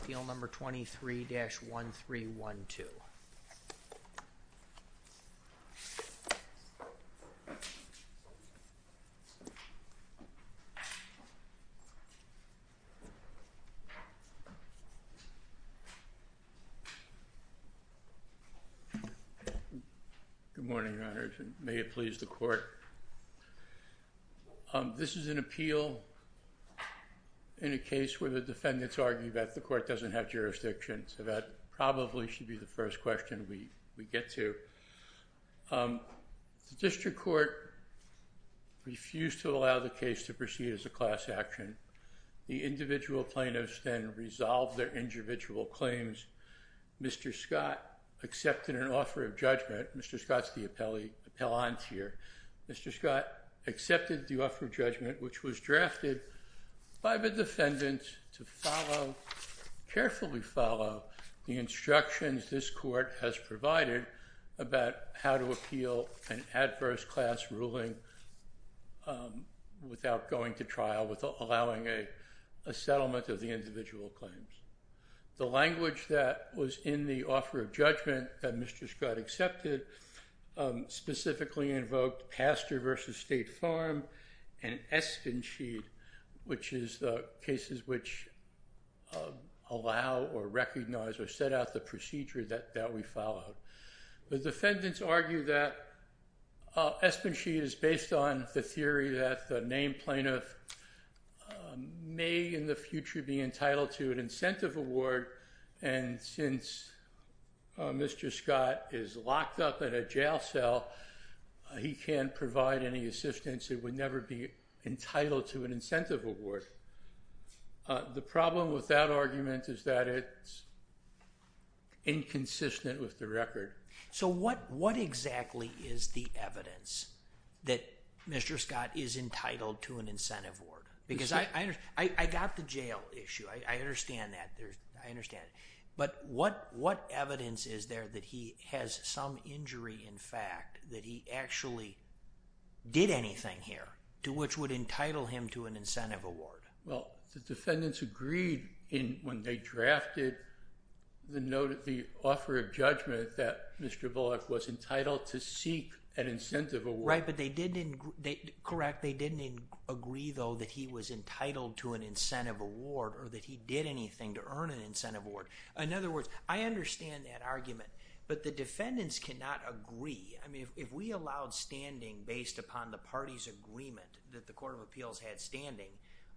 Appeal number 23-1312 Good morning, Your Honors, and may it please the Court. This is an appeal in a case where the defendants argue that the court doesn't have jurisdiction, so that probably should be the first question we we get to. The district court refused to allow the case to proceed as a class action. The individual plaintiffs then resolved their individual claims. Mr. Scott accepted the offer of judgment which was drafted by the defendants to follow, carefully follow, the instructions this court has provided about how to appeal an adverse class ruling without going to trial, without allowing a settlement of the individual claims. The language that was in the book, Pastor v. State Farm and Espenshede, which is the cases which allow or recognize or set out the procedure that that we followed. The defendants argue that Espenshede is based on the theory that the named plaintiff may in the future be entitled to an incentive award and since Mr. Scott is locked up in a jail, he can't provide any assistance, it would never be entitled to an incentive award. The problem with that argument is that it's inconsistent with the record. So what exactly is the evidence that Mr. Scott is entitled to an incentive award? Because I got the jail issue, I understand that, I understand, but what evidence is there that he has some injury in fact that he actually did anything here to which would entitle him to an incentive award? Well, the defendants agreed in when they drafted the note of the offer of judgment that Mr. Bullock was entitled to seek an incentive award. Right, but they didn't, correct, they didn't agree though that he was entitled to an incentive award or that he did anything to earn an incentive award. In other words, I understand that argument, but the defendants cannot agree. I mean, if we allowed standing based upon the party's agreement that the Court of Appeals had standing,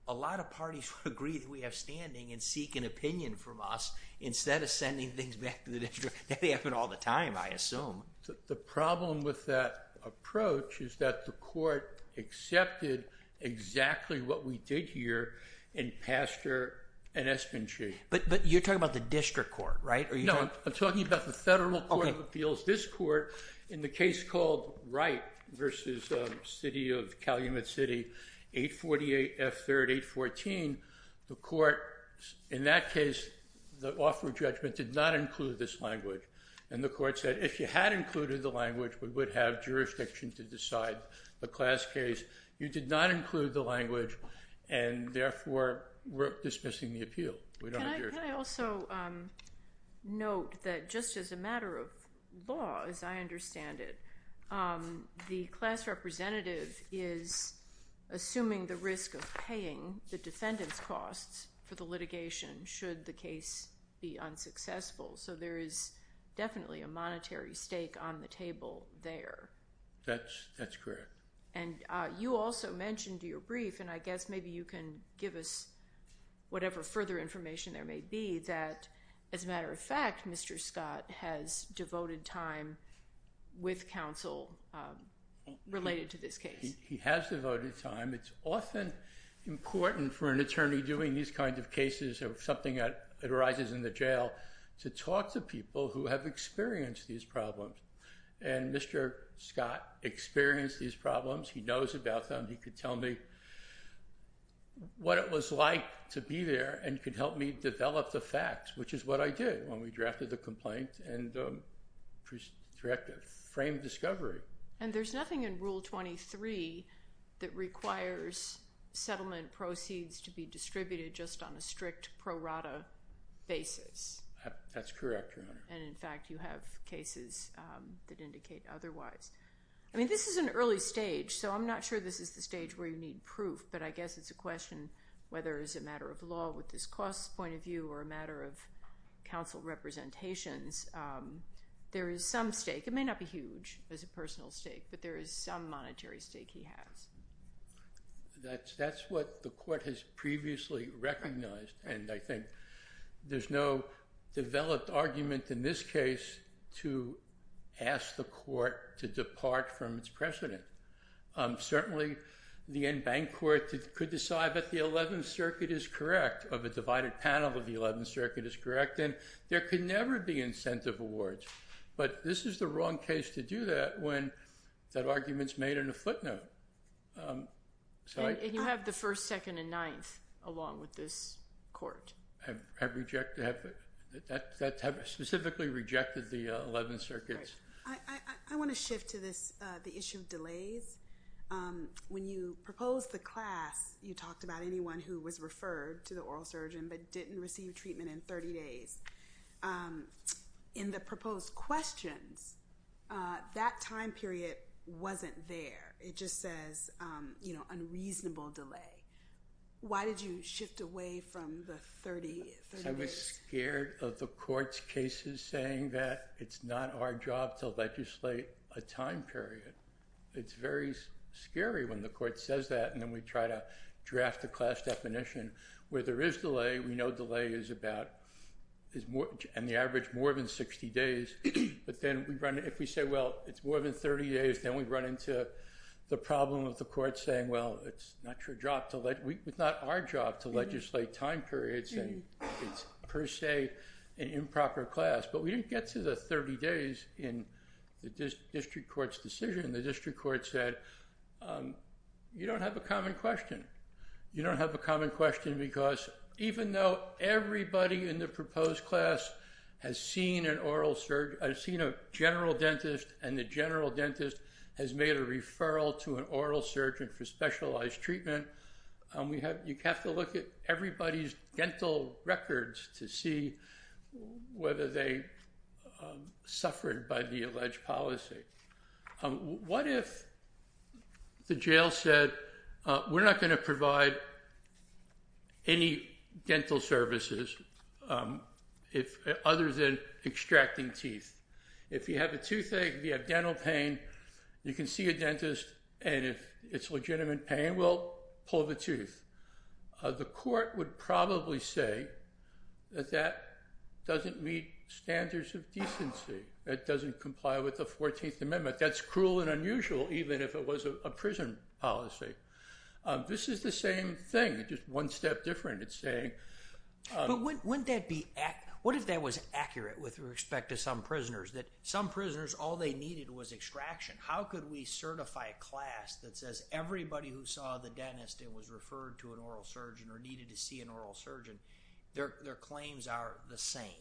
a lot of parties would agree that we have standing and seek an opinion from us instead of sending things back to the district. They happen all the time, I assume. The problem with that approach is that the court accepted exactly what we did here in Pastor and Espenshee. But you're talking about the district court, right? No, I'm talking about the Federal Court of Appeals. This court, in a case called Wright v. City of Calumet City, 848 F. 3rd 814, the court, in that case, the offer of judgment did not include this language. And the court said if you had included the language, we would have jurisdiction to decide the class case. You did not include the language and therefore we're dismissing the appeal. Can I also note that just as a matter of law, as I understand it, the class representative is assuming the risk of paying the defendant's costs for the litigation should the case be unsuccessful. So there is definitely a monetary stake on the table there. That's correct. And you also mentioned your brief, and I guess maybe you can give us whatever further information there may be, that as a matter of fact, Mr. Scott has devoted time with counsel related to this case. He has devoted time. It's often important for an attorney doing these kinds of cases or something that arises in the jail to talk to people who have experienced these problems. And Mr. Scott experienced these problems. He knows about them. He could tell me what it was like to be there and could help me develop the facts, which is what I did when we drafted the complaint and framed discovery. And there's nothing in Rule 23 that requires settlement proceeds to be distributed just on a strict pro rata basis. That's correct, Your Honor. And in fact you have cases that indicate otherwise. I mean this is an early stage, so I'm not sure this is the stage where you need proof, but I guess it's a question whether it's a matter of law with this cost point of view or a matter of counsel representations. There is some stake. It may not be huge as a personal stake, but there is some monetary stake he has. That's what the court has previously recognized, and I think there's no developed argument in this case to ask the court to depart from its precedent. Certainly the in-bank court could decide that the 11th Circuit of a divided panel of the 11th Circuit is correct, and there could never be incentive awards, but this is the wrong case to do that when that argument's made in a footnote. And you have the first, second, and ninth along with this court. That specifically rejected the 11th Circuit. I want to shift to this the issue of delays. When you proposed the oral surgeon but didn't receive treatment in 30 days, in the proposed questions, that time period wasn't there. It just says, you know, unreasonable delay. Why did you shift away from the 30 days? I was scared of the court's cases saying that it's not our job to legislate a time period. It's very scary when the court says that, and then we try to draft the class definition. Where there is delay, we know delay is about, is more, and the average more than 60 days, but then we run, if we say, well, it's more than 30 days, then we run into the problem of the court saying, well, it's not your job to let, it's not our job to legislate time periods, and it's per se an improper class. But we didn't get to the 30 days in the district court said, you don't have a common question. You don't have a common question because even though everybody in the proposed class has seen an oral surge, has seen a general dentist, and the general dentist has made a referral to an oral surgeon for specialized treatment, we have, you have to look at everybody's dental records to see whether they suffered by the alleged policy. What if the jail said, we're not going to provide any dental services, if other than extracting teeth. If you have a toothache, you have dental pain, you can see a dentist, and if it's legitimate pain, well, pull the tooth. The court would probably say that that doesn't meet standards of decency. It doesn't comply with the 14th Amendment. That's cruel and unusual, even if it was a prison policy. This is the same thing, just one step different. It's saying... But wouldn't that be, what if that was accurate with respect to some prisoners, that some prisoners, all they needed was extraction? How could we certify a class that says everybody who saw the dentist and was referred to an oral surgeon or needed to see an oral surgeon, their claims are the same?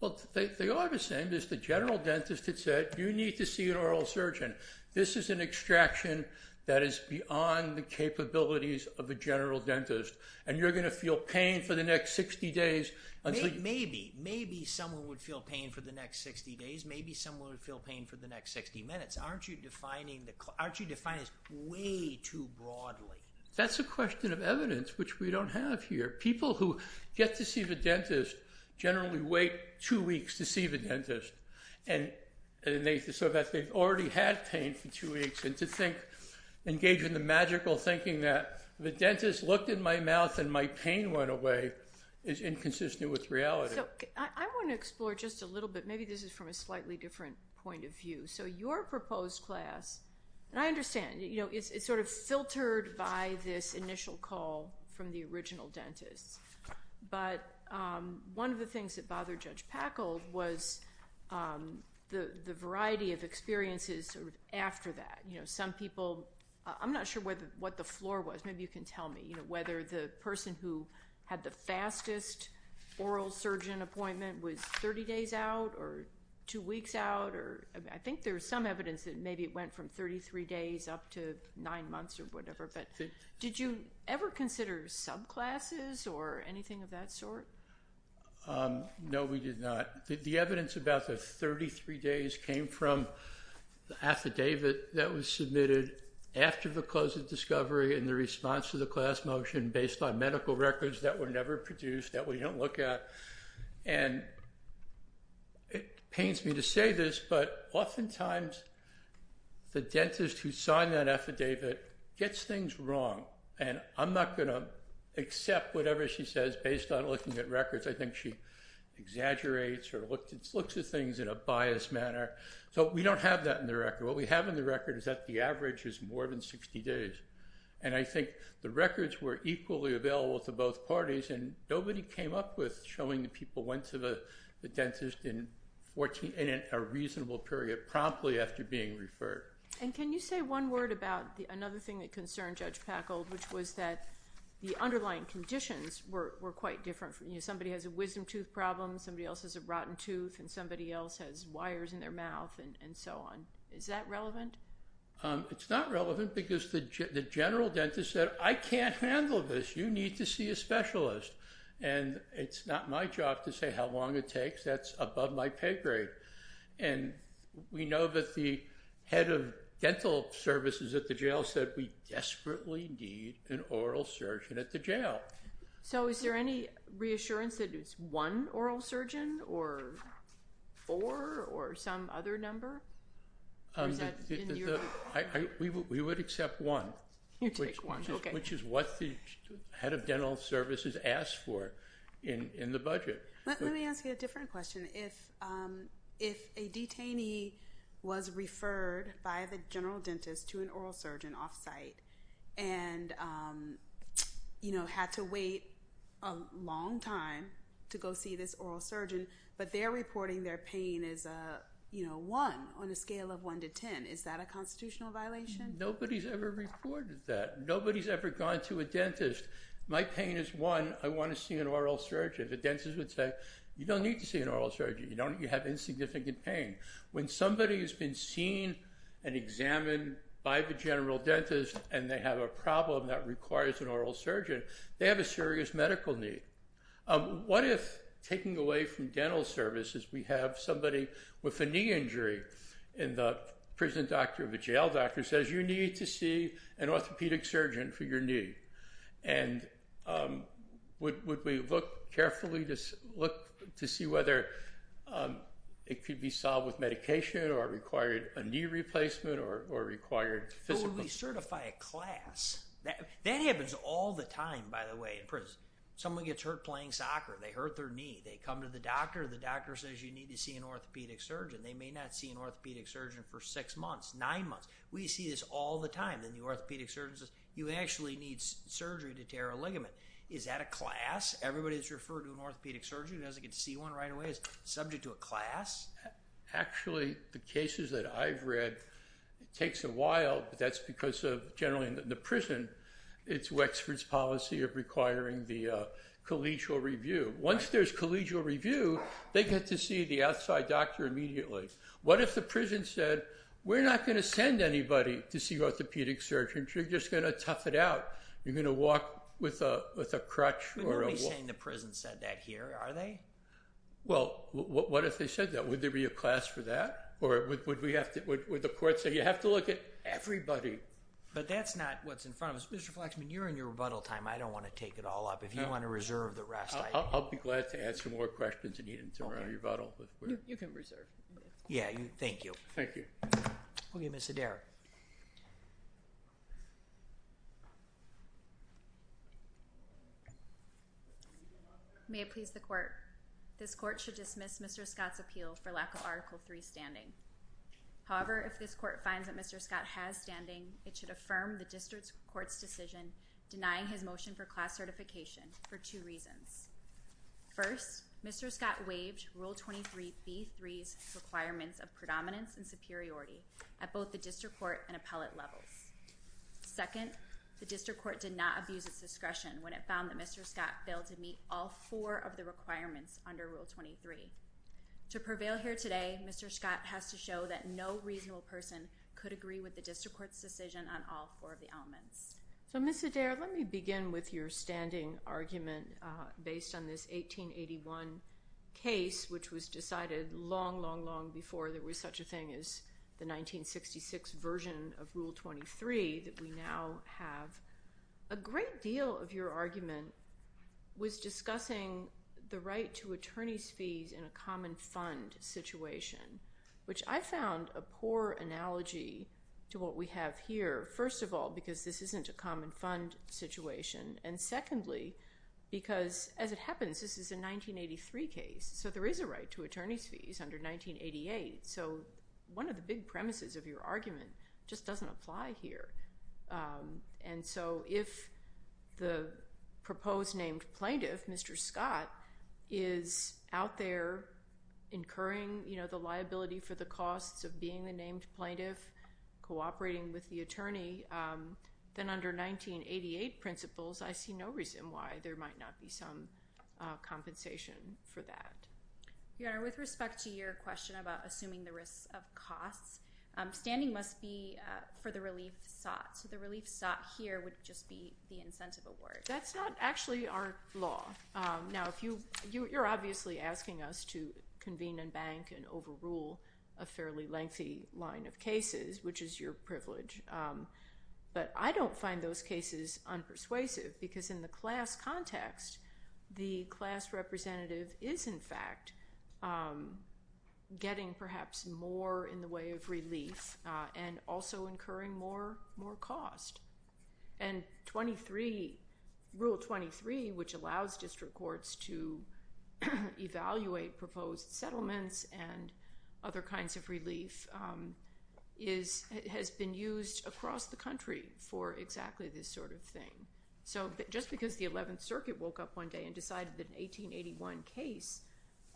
Well, they are the same. There's the general dentist that said, you need to see an oral surgeon. This is an extraction that is beyond the capabilities of a general dentist, and you're going to feel pain for the next 60 days. Maybe, maybe someone would feel pain for the next 60 days, maybe someone would feel pain for the next 60 minutes. Aren't you defining the court, aren't you defining this way too broadly? That's a question of evidence which we don't have here. People who get to see the dentist generally wait two weeks to see the dentist, so that they've already had pain for two weeks, and to think, engage in the magical thinking that the dentist looked in my mouth and my pain went away is inconsistent with reality. I want to explore just a little bit, maybe this is from a slightly different point of view. So your proposed class, and I understand, you know, it's sort of filtered by this initial call from the the variety of experiences after that. You know, some people, I'm not sure what the floor was, maybe you can tell me, you know, whether the person who had the fastest oral surgeon appointment was 30 days out, or two weeks out, or I think there's some evidence that maybe it went from 33 days up to nine months, or whatever, but did you ever consider subclasses or anything of that sort? No, we did not. The evidence about the 33 days came from the affidavit that was submitted after the close of discovery and the response to the class motion based on medical records that were never produced, that we don't look at, and it pains me to say this, but oftentimes the dentist who signed that affidavit gets things wrong, and I'm not going to accept whatever she says based on looking at exaggerates or looks at things in a biased manner, so we don't have that in the record. What we have in the record is that the average is more than 60 days, and I think the records were equally available to both parties, and nobody came up with showing that people went to the dentist in a reasonable period promptly after being referred. And can you say one word about another thing that concerned Judge Packold, which was that the underlying conditions were that somebody else has a rotten tooth and somebody else has wires in their mouth and so on. Is that relevant? It's not relevant because the general dentist said I can't handle this. You need to see a specialist, and it's not my job to say how long it takes. That's above my pay grade, and we know that the head of dental services at the jail said we desperately need an oral surgeon at the or some other number? We would accept one, which is what the head of dental services asked for in the budget. Let me ask you a different question. If a detainee was referred by the general dentist to an oral surgeon off-site and had to wait a long time to go see this oral surgeon, but they're reporting their pain as a one on a scale of one to ten, is that a constitutional violation? Nobody's ever reported that. Nobody's ever gone to a dentist. My pain is one. I want to see an oral surgeon. The dentist would say you don't need to see an oral surgeon. You have insignificant pain. When somebody has been seen and examined by the general dentist and they have a requires an oral surgeon, they have a serious medical need. What if taking away from dental services we have somebody with a knee injury and the prison doctor of a jail doctor says you need to see an orthopedic surgeon for your knee, and would we look carefully to look to see whether it could be solved with medication or required a knee replacement or required physical? How do we certify a class? That happens all the time, by the way, in prison. Someone gets hurt playing soccer. They hurt their knee. They come to the doctor. The doctor says you need to see an orthopedic surgeon. They may not see an orthopedic surgeon for six months, nine months. We see this all the time. Then the orthopedic surgeon says you actually need surgery to tear a ligament. Is that a class? Everybody that's referred to an orthopedic surgeon doesn't get to see one right away is subject to a class? Actually, the cases that I've read, it generally in the prison, it's Wexford's policy of requiring the collegial review. Once there's collegial review, they get to see the outside doctor immediately. What if the prison said we're not going to send anybody to see orthopedic surgeons. You're just going to tough it out. You're going to walk with a crutch. But nobody's saying the prison said that here, are they? Well, what if they said that? Would there be a class for that? Or would the court say you have to look at everybody? But that's not what's in front of us. Mr. Flexman, you're in your rebuttal time. I don't want to take it all up. If you want to reserve the rest. I'll be glad to ask some more questions and you can turn around your rebuttal. You can reserve. Yeah, thank you. Thank you. Okay, Ms. Hedera. May it please the court. This court should dismiss Mr. Scott's appeal for lack of Article 3 standing. However, if this court finds that Mr. Scott has standing, it should affirm the district court's decision denying his motion for class certification for two reasons. First, Mr. Scott waived Rule 23 B3's requirements of predominance and superiority at both the district court and appellate levels. Second, the district court did not abuse its discretion when it found that Mr. Scott failed to meet all four of the requirements under Rule 23. To prevail here today, Mr. Scott has to show that no reasonable person could agree with the district court's decision on all four of the elements. So, Ms. Hedera, let me begin with your standing argument based on this 1881 case which was decided long, long, long before there was such a thing as the 1966 version of Rule 23 that we now have. A great deal of your argument was discussing the right to attorney's fees in a common fund situation, which I found a poor analogy to what we have here. First of all, because this isn't a common fund situation, and secondly, because as it happens this is a 1983 case, so there is a right to attorney's fees under 1988. So, one of the big premises of your argument just doesn't apply here. And so, if the proposed named plaintiff, Mr. Scott, is out there incurring, you know, the liability for the costs of being the named plaintiff, cooperating with the attorney, then under 1988 principles I see no reason why there might not be some compensation for that. Your Honor, with respect to your question about assuming the risks of costs, standing must be for the relief sought. So, the relief sought here would just be the Now, you're obviously asking us to convene and bank and overrule a fairly lengthy line of cases, which is your privilege, but I don't find those cases unpersuasive because in the class context, the class representative is, in fact, getting perhaps more in the way of relief and also incurring more cost. And Rule 23, which allows district courts to evaluate proposed settlements and other kinds of relief, has been used across the country for exactly this sort of thing. So, just because the 11th Circuit woke up one day and decided that an 1881 case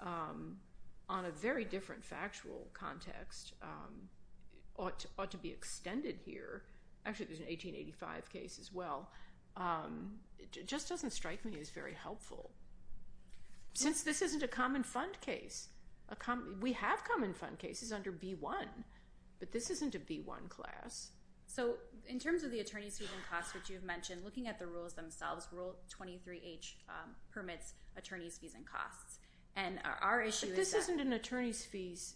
on a very different factual context ought to be extended here—actually, there's an 1885 case as well—it just doesn't strike me as very helpful. Since this isn't a common fund case, we have common fund cases under B-1, but this isn't a B-1 class. So, in terms of the attorney's fees and costs, which you've mentioned, looking at the rules themselves, Rule 23H permits attorney's fees and costs. And our issue is that— But this isn't an attorney's fees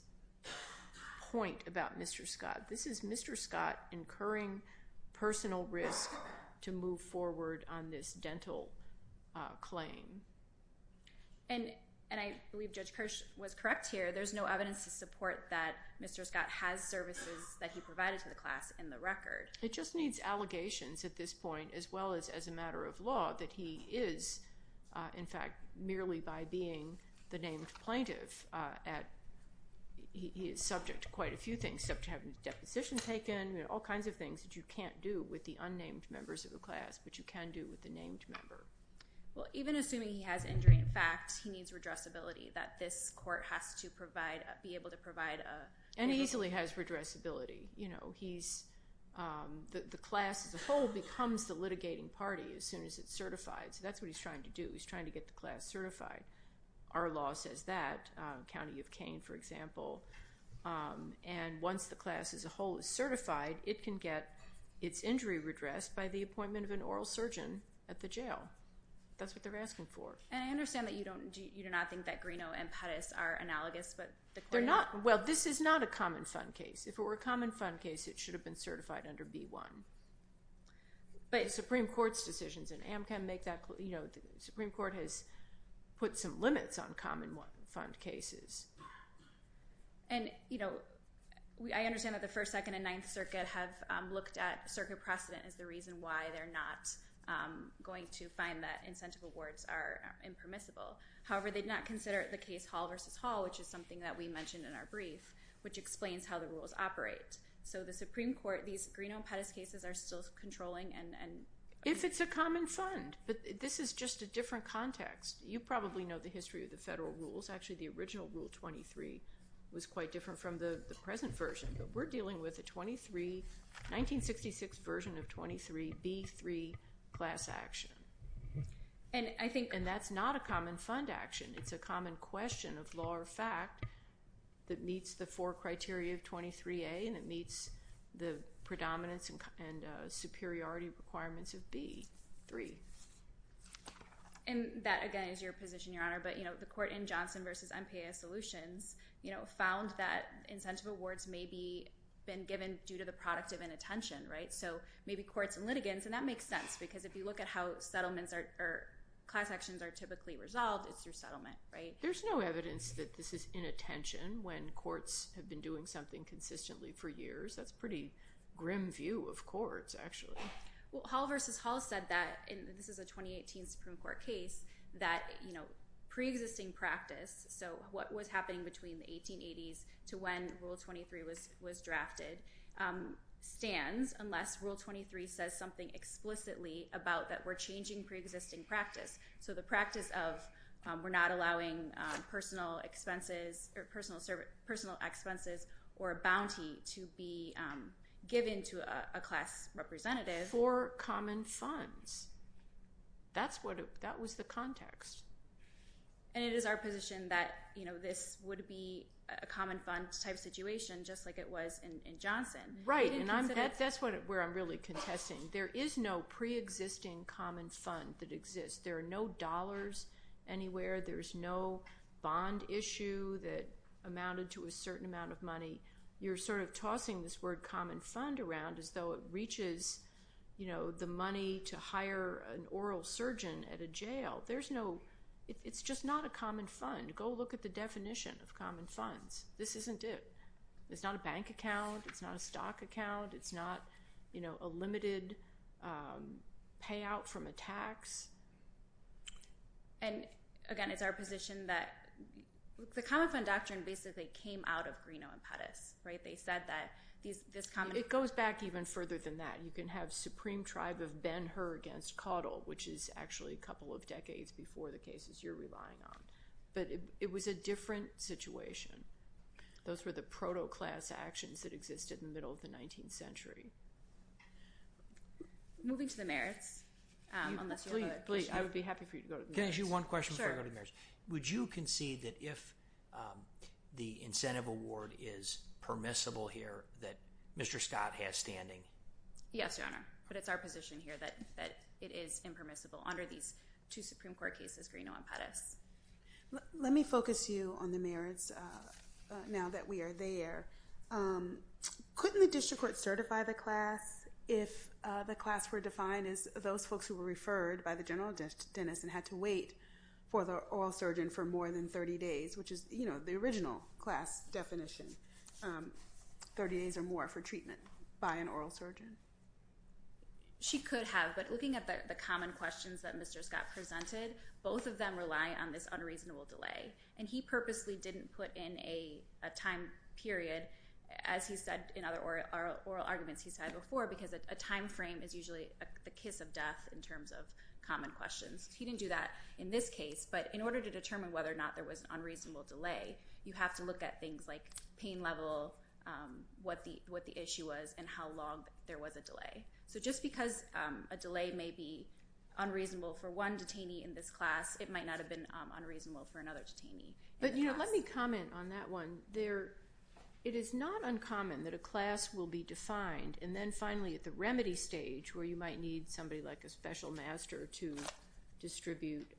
point about Mr. Scott. This is Mr. Scott incurring personal risk to move forward on this dental claim. And I believe Judge Kirsch was correct here. There's no evidence to support that Mr. Scott has services that he provided to the class in the record. It just needs allegations at this point, as well as as a matter of law, that he is, in fact, merely by being the named plaintiff. He is subject to a few things, subject to having a deposition taken, all kinds of things that you can't do with the unnamed members of the class, but you can do with the named member. Well, even assuming he has injury, in fact, he needs redressability, that this court has to provide—be able to provide a— And he easily has redressability, you know. He's—the class as a whole becomes the litigating party as soon as it's certified, so that's what he's trying to do. He's trying to get the class certified. Our law says that. County of Kane, for example. And once the class as a whole is certified, it can get its injury redressed by the appointment of an oral surgeon at the jail. That's what they're asking for. And I understand that you don't—you do not think that Greeno and Pettis are analogous, but the court— They're not. Well, this is not a common fund case. If it were a common fund case, it should have been certified under B-1. But Supreme Court's decisions in AMCM make that—you know, the Supreme Court has put some limits on common fund cases. And, you know, I understand that the First, Second, and Ninth Circuit have looked at circuit precedent as the reason why they're not going to find that incentive awards are impermissible. However, they did not consider the case Hall v. Hall, which is something that we mentioned in our brief, which explains how the rules operate. So the Supreme Court—these Greeno and Pettis cases are still controlling and— If it's a common fund, but this is just a different context. You probably know the history of the federal rules. Actually, the original Rule 23 was quite different from the present version. But we're dealing with a 23—1966 version of 23—B-3 class action. And I think—and that's not a common fund action. It's a common question of law or fact that meets the predominance and superiority requirements of B-3. And that, again, is your position, Your Honor. But, you know, the court in Johnson v. MPAS Solutions, you know, found that incentive awards may be—been given due to the product of inattention, right? So maybe courts and litigants—and that makes sense because if you look at how settlements are—class actions are typically resolved, it's your settlement, right? There's no evidence that this is inattention when it's a pretty grim view of courts, actually. Well, Hall v. Hall said that—and this is a 2018 Supreme Court case—that, you know, pre-existing practice—so what was happening between the 1880s to when Rule 23 was drafted—stands unless Rule 23 says something explicitly about that we're changing pre-existing practice. So the practice of we're not allowing personal expenses or personal expenses or a bounty to be given to a class representative—For common funds. That's what—that was the context. And it is our position that, you know, this would be a common fund type situation just like it was in Johnson. Right, and that's where I'm really contesting. There is no pre-existing common fund that amounted to a certain amount of money. You're sort of tossing this word common fund around as though it reaches, you know, the money to hire an oral surgeon at a jail. There's no—it's just not a common fund. Go look at the definition of common funds. This isn't it. It's not a bank account. It's not a stock account. It's not, you know, a limited payout from a tax. And again, it's our position that the common fund doctrine basically came out of Greenough and Pettus, right? They said that this common—It goes back even further than that. You can have Supreme Tribe of Ben-Hur against Caudill, which is actually a couple of decades before the cases you're relying on. But it was a different situation. Those were the proto-class actions that existed in the middle of the 19th century. Moving to the merits. Please, please, I would be happy for you to go to the merits. Can I ask you one question before I go to the merits? Would you concede that if the incentive award is permissible here that Mr. Scott has standing? Yes, Your Honor, but it's our position here that it is impermissible under these two Supreme Court cases, Greenough and Pettus. Let me focus you on the merits now that we are there. Couldn't the district court certify the class if the class were defined as those folks who were referred by the general dentist and had to wait for the oral surgeon for more than 30 days, which is, you know, the original class definition. 30 days or more for treatment by an oral surgeon. She could have, but looking at the common questions that Mr. Scott presented, both of them rely on this unreasonable delay. And he purposely didn't put in a time period, as he said in other oral arguments he's had before, because a time frame is usually the kiss of death in terms of common questions. He didn't do that in this case, but in order to determine whether or not there was an unreasonable delay, you have to look at things like pain level, what the issue was, and how long there was a delay. So just because a delay may be unreasonable for one detainee in this class, it might not have been unreasonable for another detainee. But, you know, let me comment on that one. It is not uncommon that a class will be defined, and then finally at the remedy stage where you might need somebody like a special master to distribute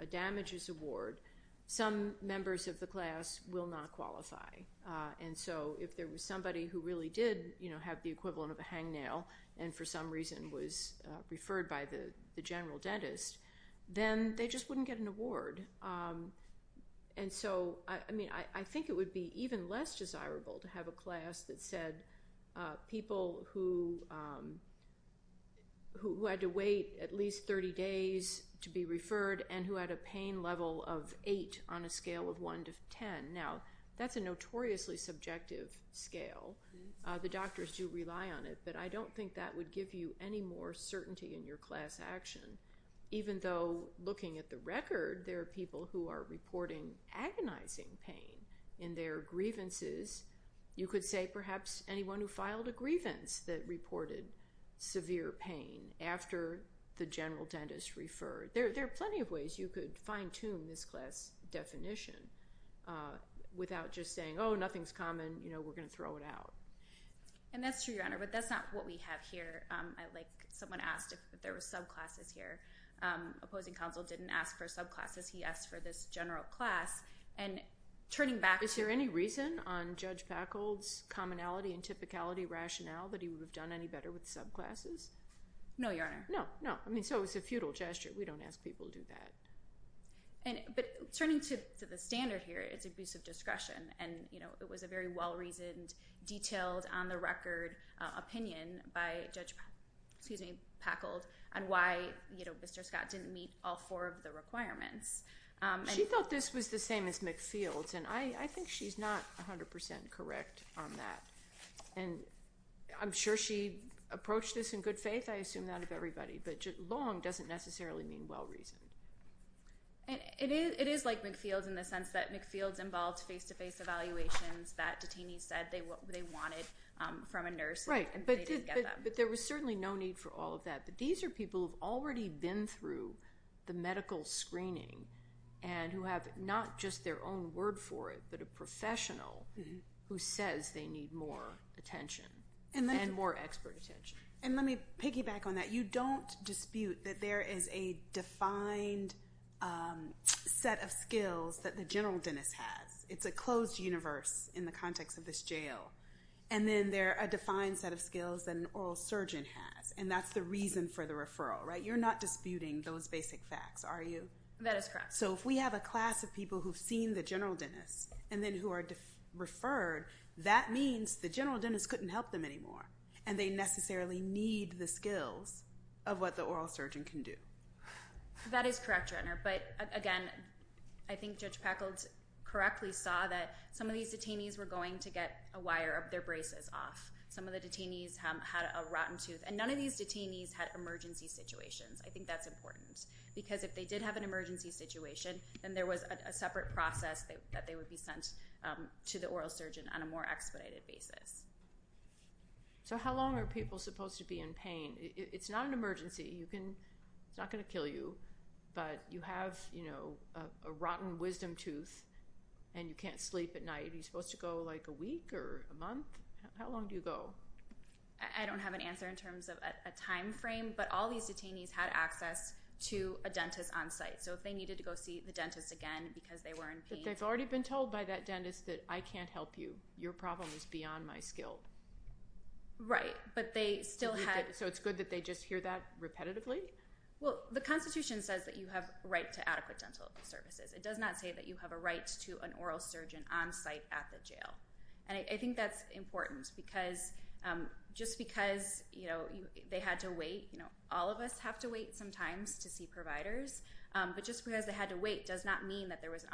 a damages award, some members of the class will not qualify. And so if there was somebody who really did, you know, have the equivalent of a hangnail, and for some reason was referred by the general dentist, then they just wouldn't get an award. And so, I mean, I think it would be even less desirable to have a class that said people who had to wait at least 30 days to be referred, and who had a pain level of 8 on a scale of 1 to 10. Now, that's a notoriously subjective scale. The doctors do rely on it, but I don't think that would give you any more certainty in your class action, even though looking at the record, there are people who are reporting agonizing pain in their grievances. You could say perhaps anyone who filed a grievance that reported severe pain after the general dentist referred. There are plenty of ways you could fine-tune this class definition without just saying, oh, nothing's common, you know, we're going to throw it out. And that's true, Your Honor, but that's not what we have here. Like, someone asked if there were subclasses here. Opposing counsel didn't ask for subclasses. And turning back to... Is there any reason on Judge Packold's commonality and typicality rationale that he would have done any better with subclasses? No, Your Honor. No, no. I mean, so it's a futile gesture. We don't ask people to do that. But turning to the standard here, it's abusive discretion. And, you know, it was a very well-reasoned, detailed, on-the-record opinion by Judge Packold on why, you know, Mr. Scott didn't meet all four of the requirements. She thought this was the same as McField's. And I think she's not 100% correct on that. And I'm sure she approached this in good faith. I assume that of everybody. But long doesn't necessarily mean well-reasoned. It is like McField's in the sense that McField's involved face-to-face evaluations that detainees said they wanted from a nurse. Right, but there was certainly no need for all of that. But these are people who've already been through the medical screening and who have not just their own word for it, but a professional who says they need more attention and more expert attention. And let me piggyback on that. You don't dispute that there is a defined set of skills that the general dentist has. It's a closed universe in the context of this jail. And then there are a defined set of skills that an oral surgeon has. And that's the reason for the referral, right? You're not disputing those basic facts, are you? That is correct. So if we have a class of people who've seen the general dentist and then who are referred, that means the general dentist couldn't help them anymore. And they necessarily need the skills of what the oral surgeon can do. That is correct, Your Honor. But again, I think Judge Peckold correctly saw that some of these detainees were going to get a wire of their braces off. Some of the detainees had a rotten tooth. And none of these detainees had emergency situations. I think that's important. Because if they did have an emergency situation, then there was a separate process that they would be sent to the oral surgeon on a more expedited basis. So how long are people supposed to be in pain? It's not an emergency. It's not going to kill you, but you have, you know, a rotten wisdom tooth and you can't sleep at night. Are you supposed to go like a week or a month? How long do you go? I don't have an answer in terms of a timeframe, but all these detainees had access to a dentist on site. So if they needed to go see the dentist again because they were in pain. But they've already been told by that dentist that I can't help you. Your problem is beyond my skill. Right, but they still had. So it's good that they just hear that repetitively? Well, the Constitution says that you have right to adequate dental services. It does not say that you have a right to an oral surgeon on site at the jail. And I think that's important because just because, you know, they had to wait, you know, all of us have to wait sometimes to see providers, but just because they had to wait does not mean that there was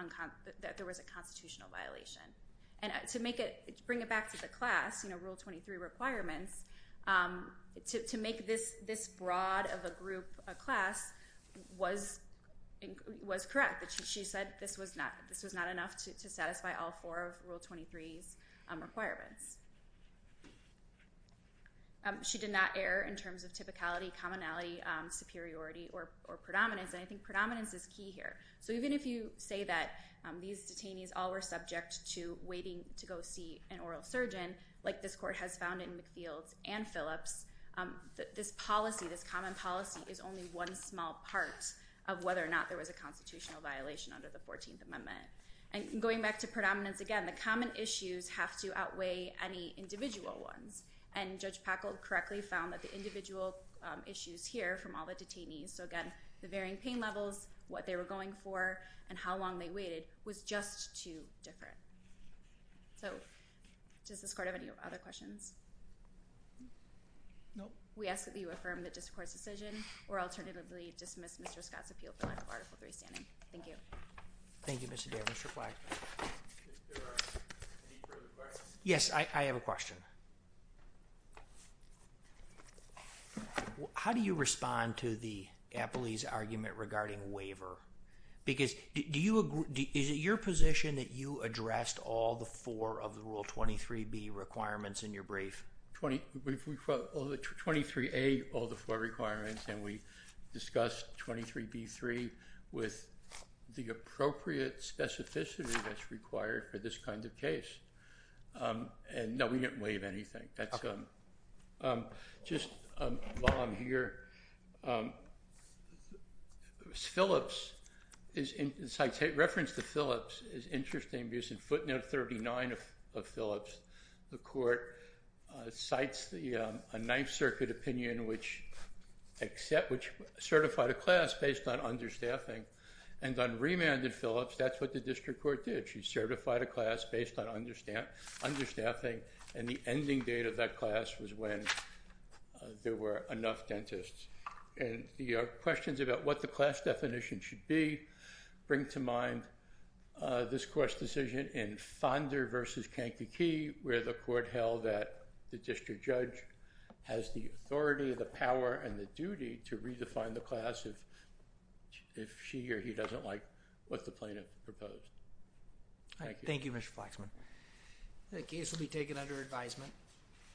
a constitutional violation. And to make it, to bring it back to the class, you know, Rule 23 requirements, to make this broad of a group, a class, was correct. She said this was not enough to satisfy all four of the requirements. So even if you say that these detainees all were subject to waiting to go see an oral surgeon, like this court has found in McField's and Phillips, this policy, this common policy, is only one small part of whether or not there was a constitutional violation under the 14th Amendment. And going back to predominance again, the common issues have to outweigh any individual ones. And Judge Packle correctly found that the individual issues here from all the detainees, so again, the varying pain levels, what they were going for, and how long they waited, was just too different. So does this court have any other questions? Nope. We ask that you affirm that this court's decision or alternatively dismiss Mr. Scott's appeal for lack of Article 3 standing. Thank you. Thank you, Mr. Davis. Yes, I have a question. How do you respond to the Appley's argument regarding waiver? Because do you agree, is it your position that you addressed all the four of the Rule 23b requirements in your brief? We've got 23a, all the four requirements, and we discussed 23b-3 with the appropriate specificity that's required for this kind of case. And no, we didn't waive anything. Just while I'm here, Phillips, in reference to Phillips, is interesting because in footnote 39 of Phillips, it cites a Ninth Circuit opinion which certified a class based on understaffing. And on remanded Phillips, that's what the district court did. She certified a class based on understaffing, and the ending date of that class was when there were enough dentists. And the questions about what the class definition should be bring to mind this court's decision in Fonder versus Kankakee, where the court held that the district judge has the authority, the power, and the duty to redefine the class if she or he doesn't like what the plaintiff proposed. Thank you, Mr. Flaxman. The case will be taken under advisement.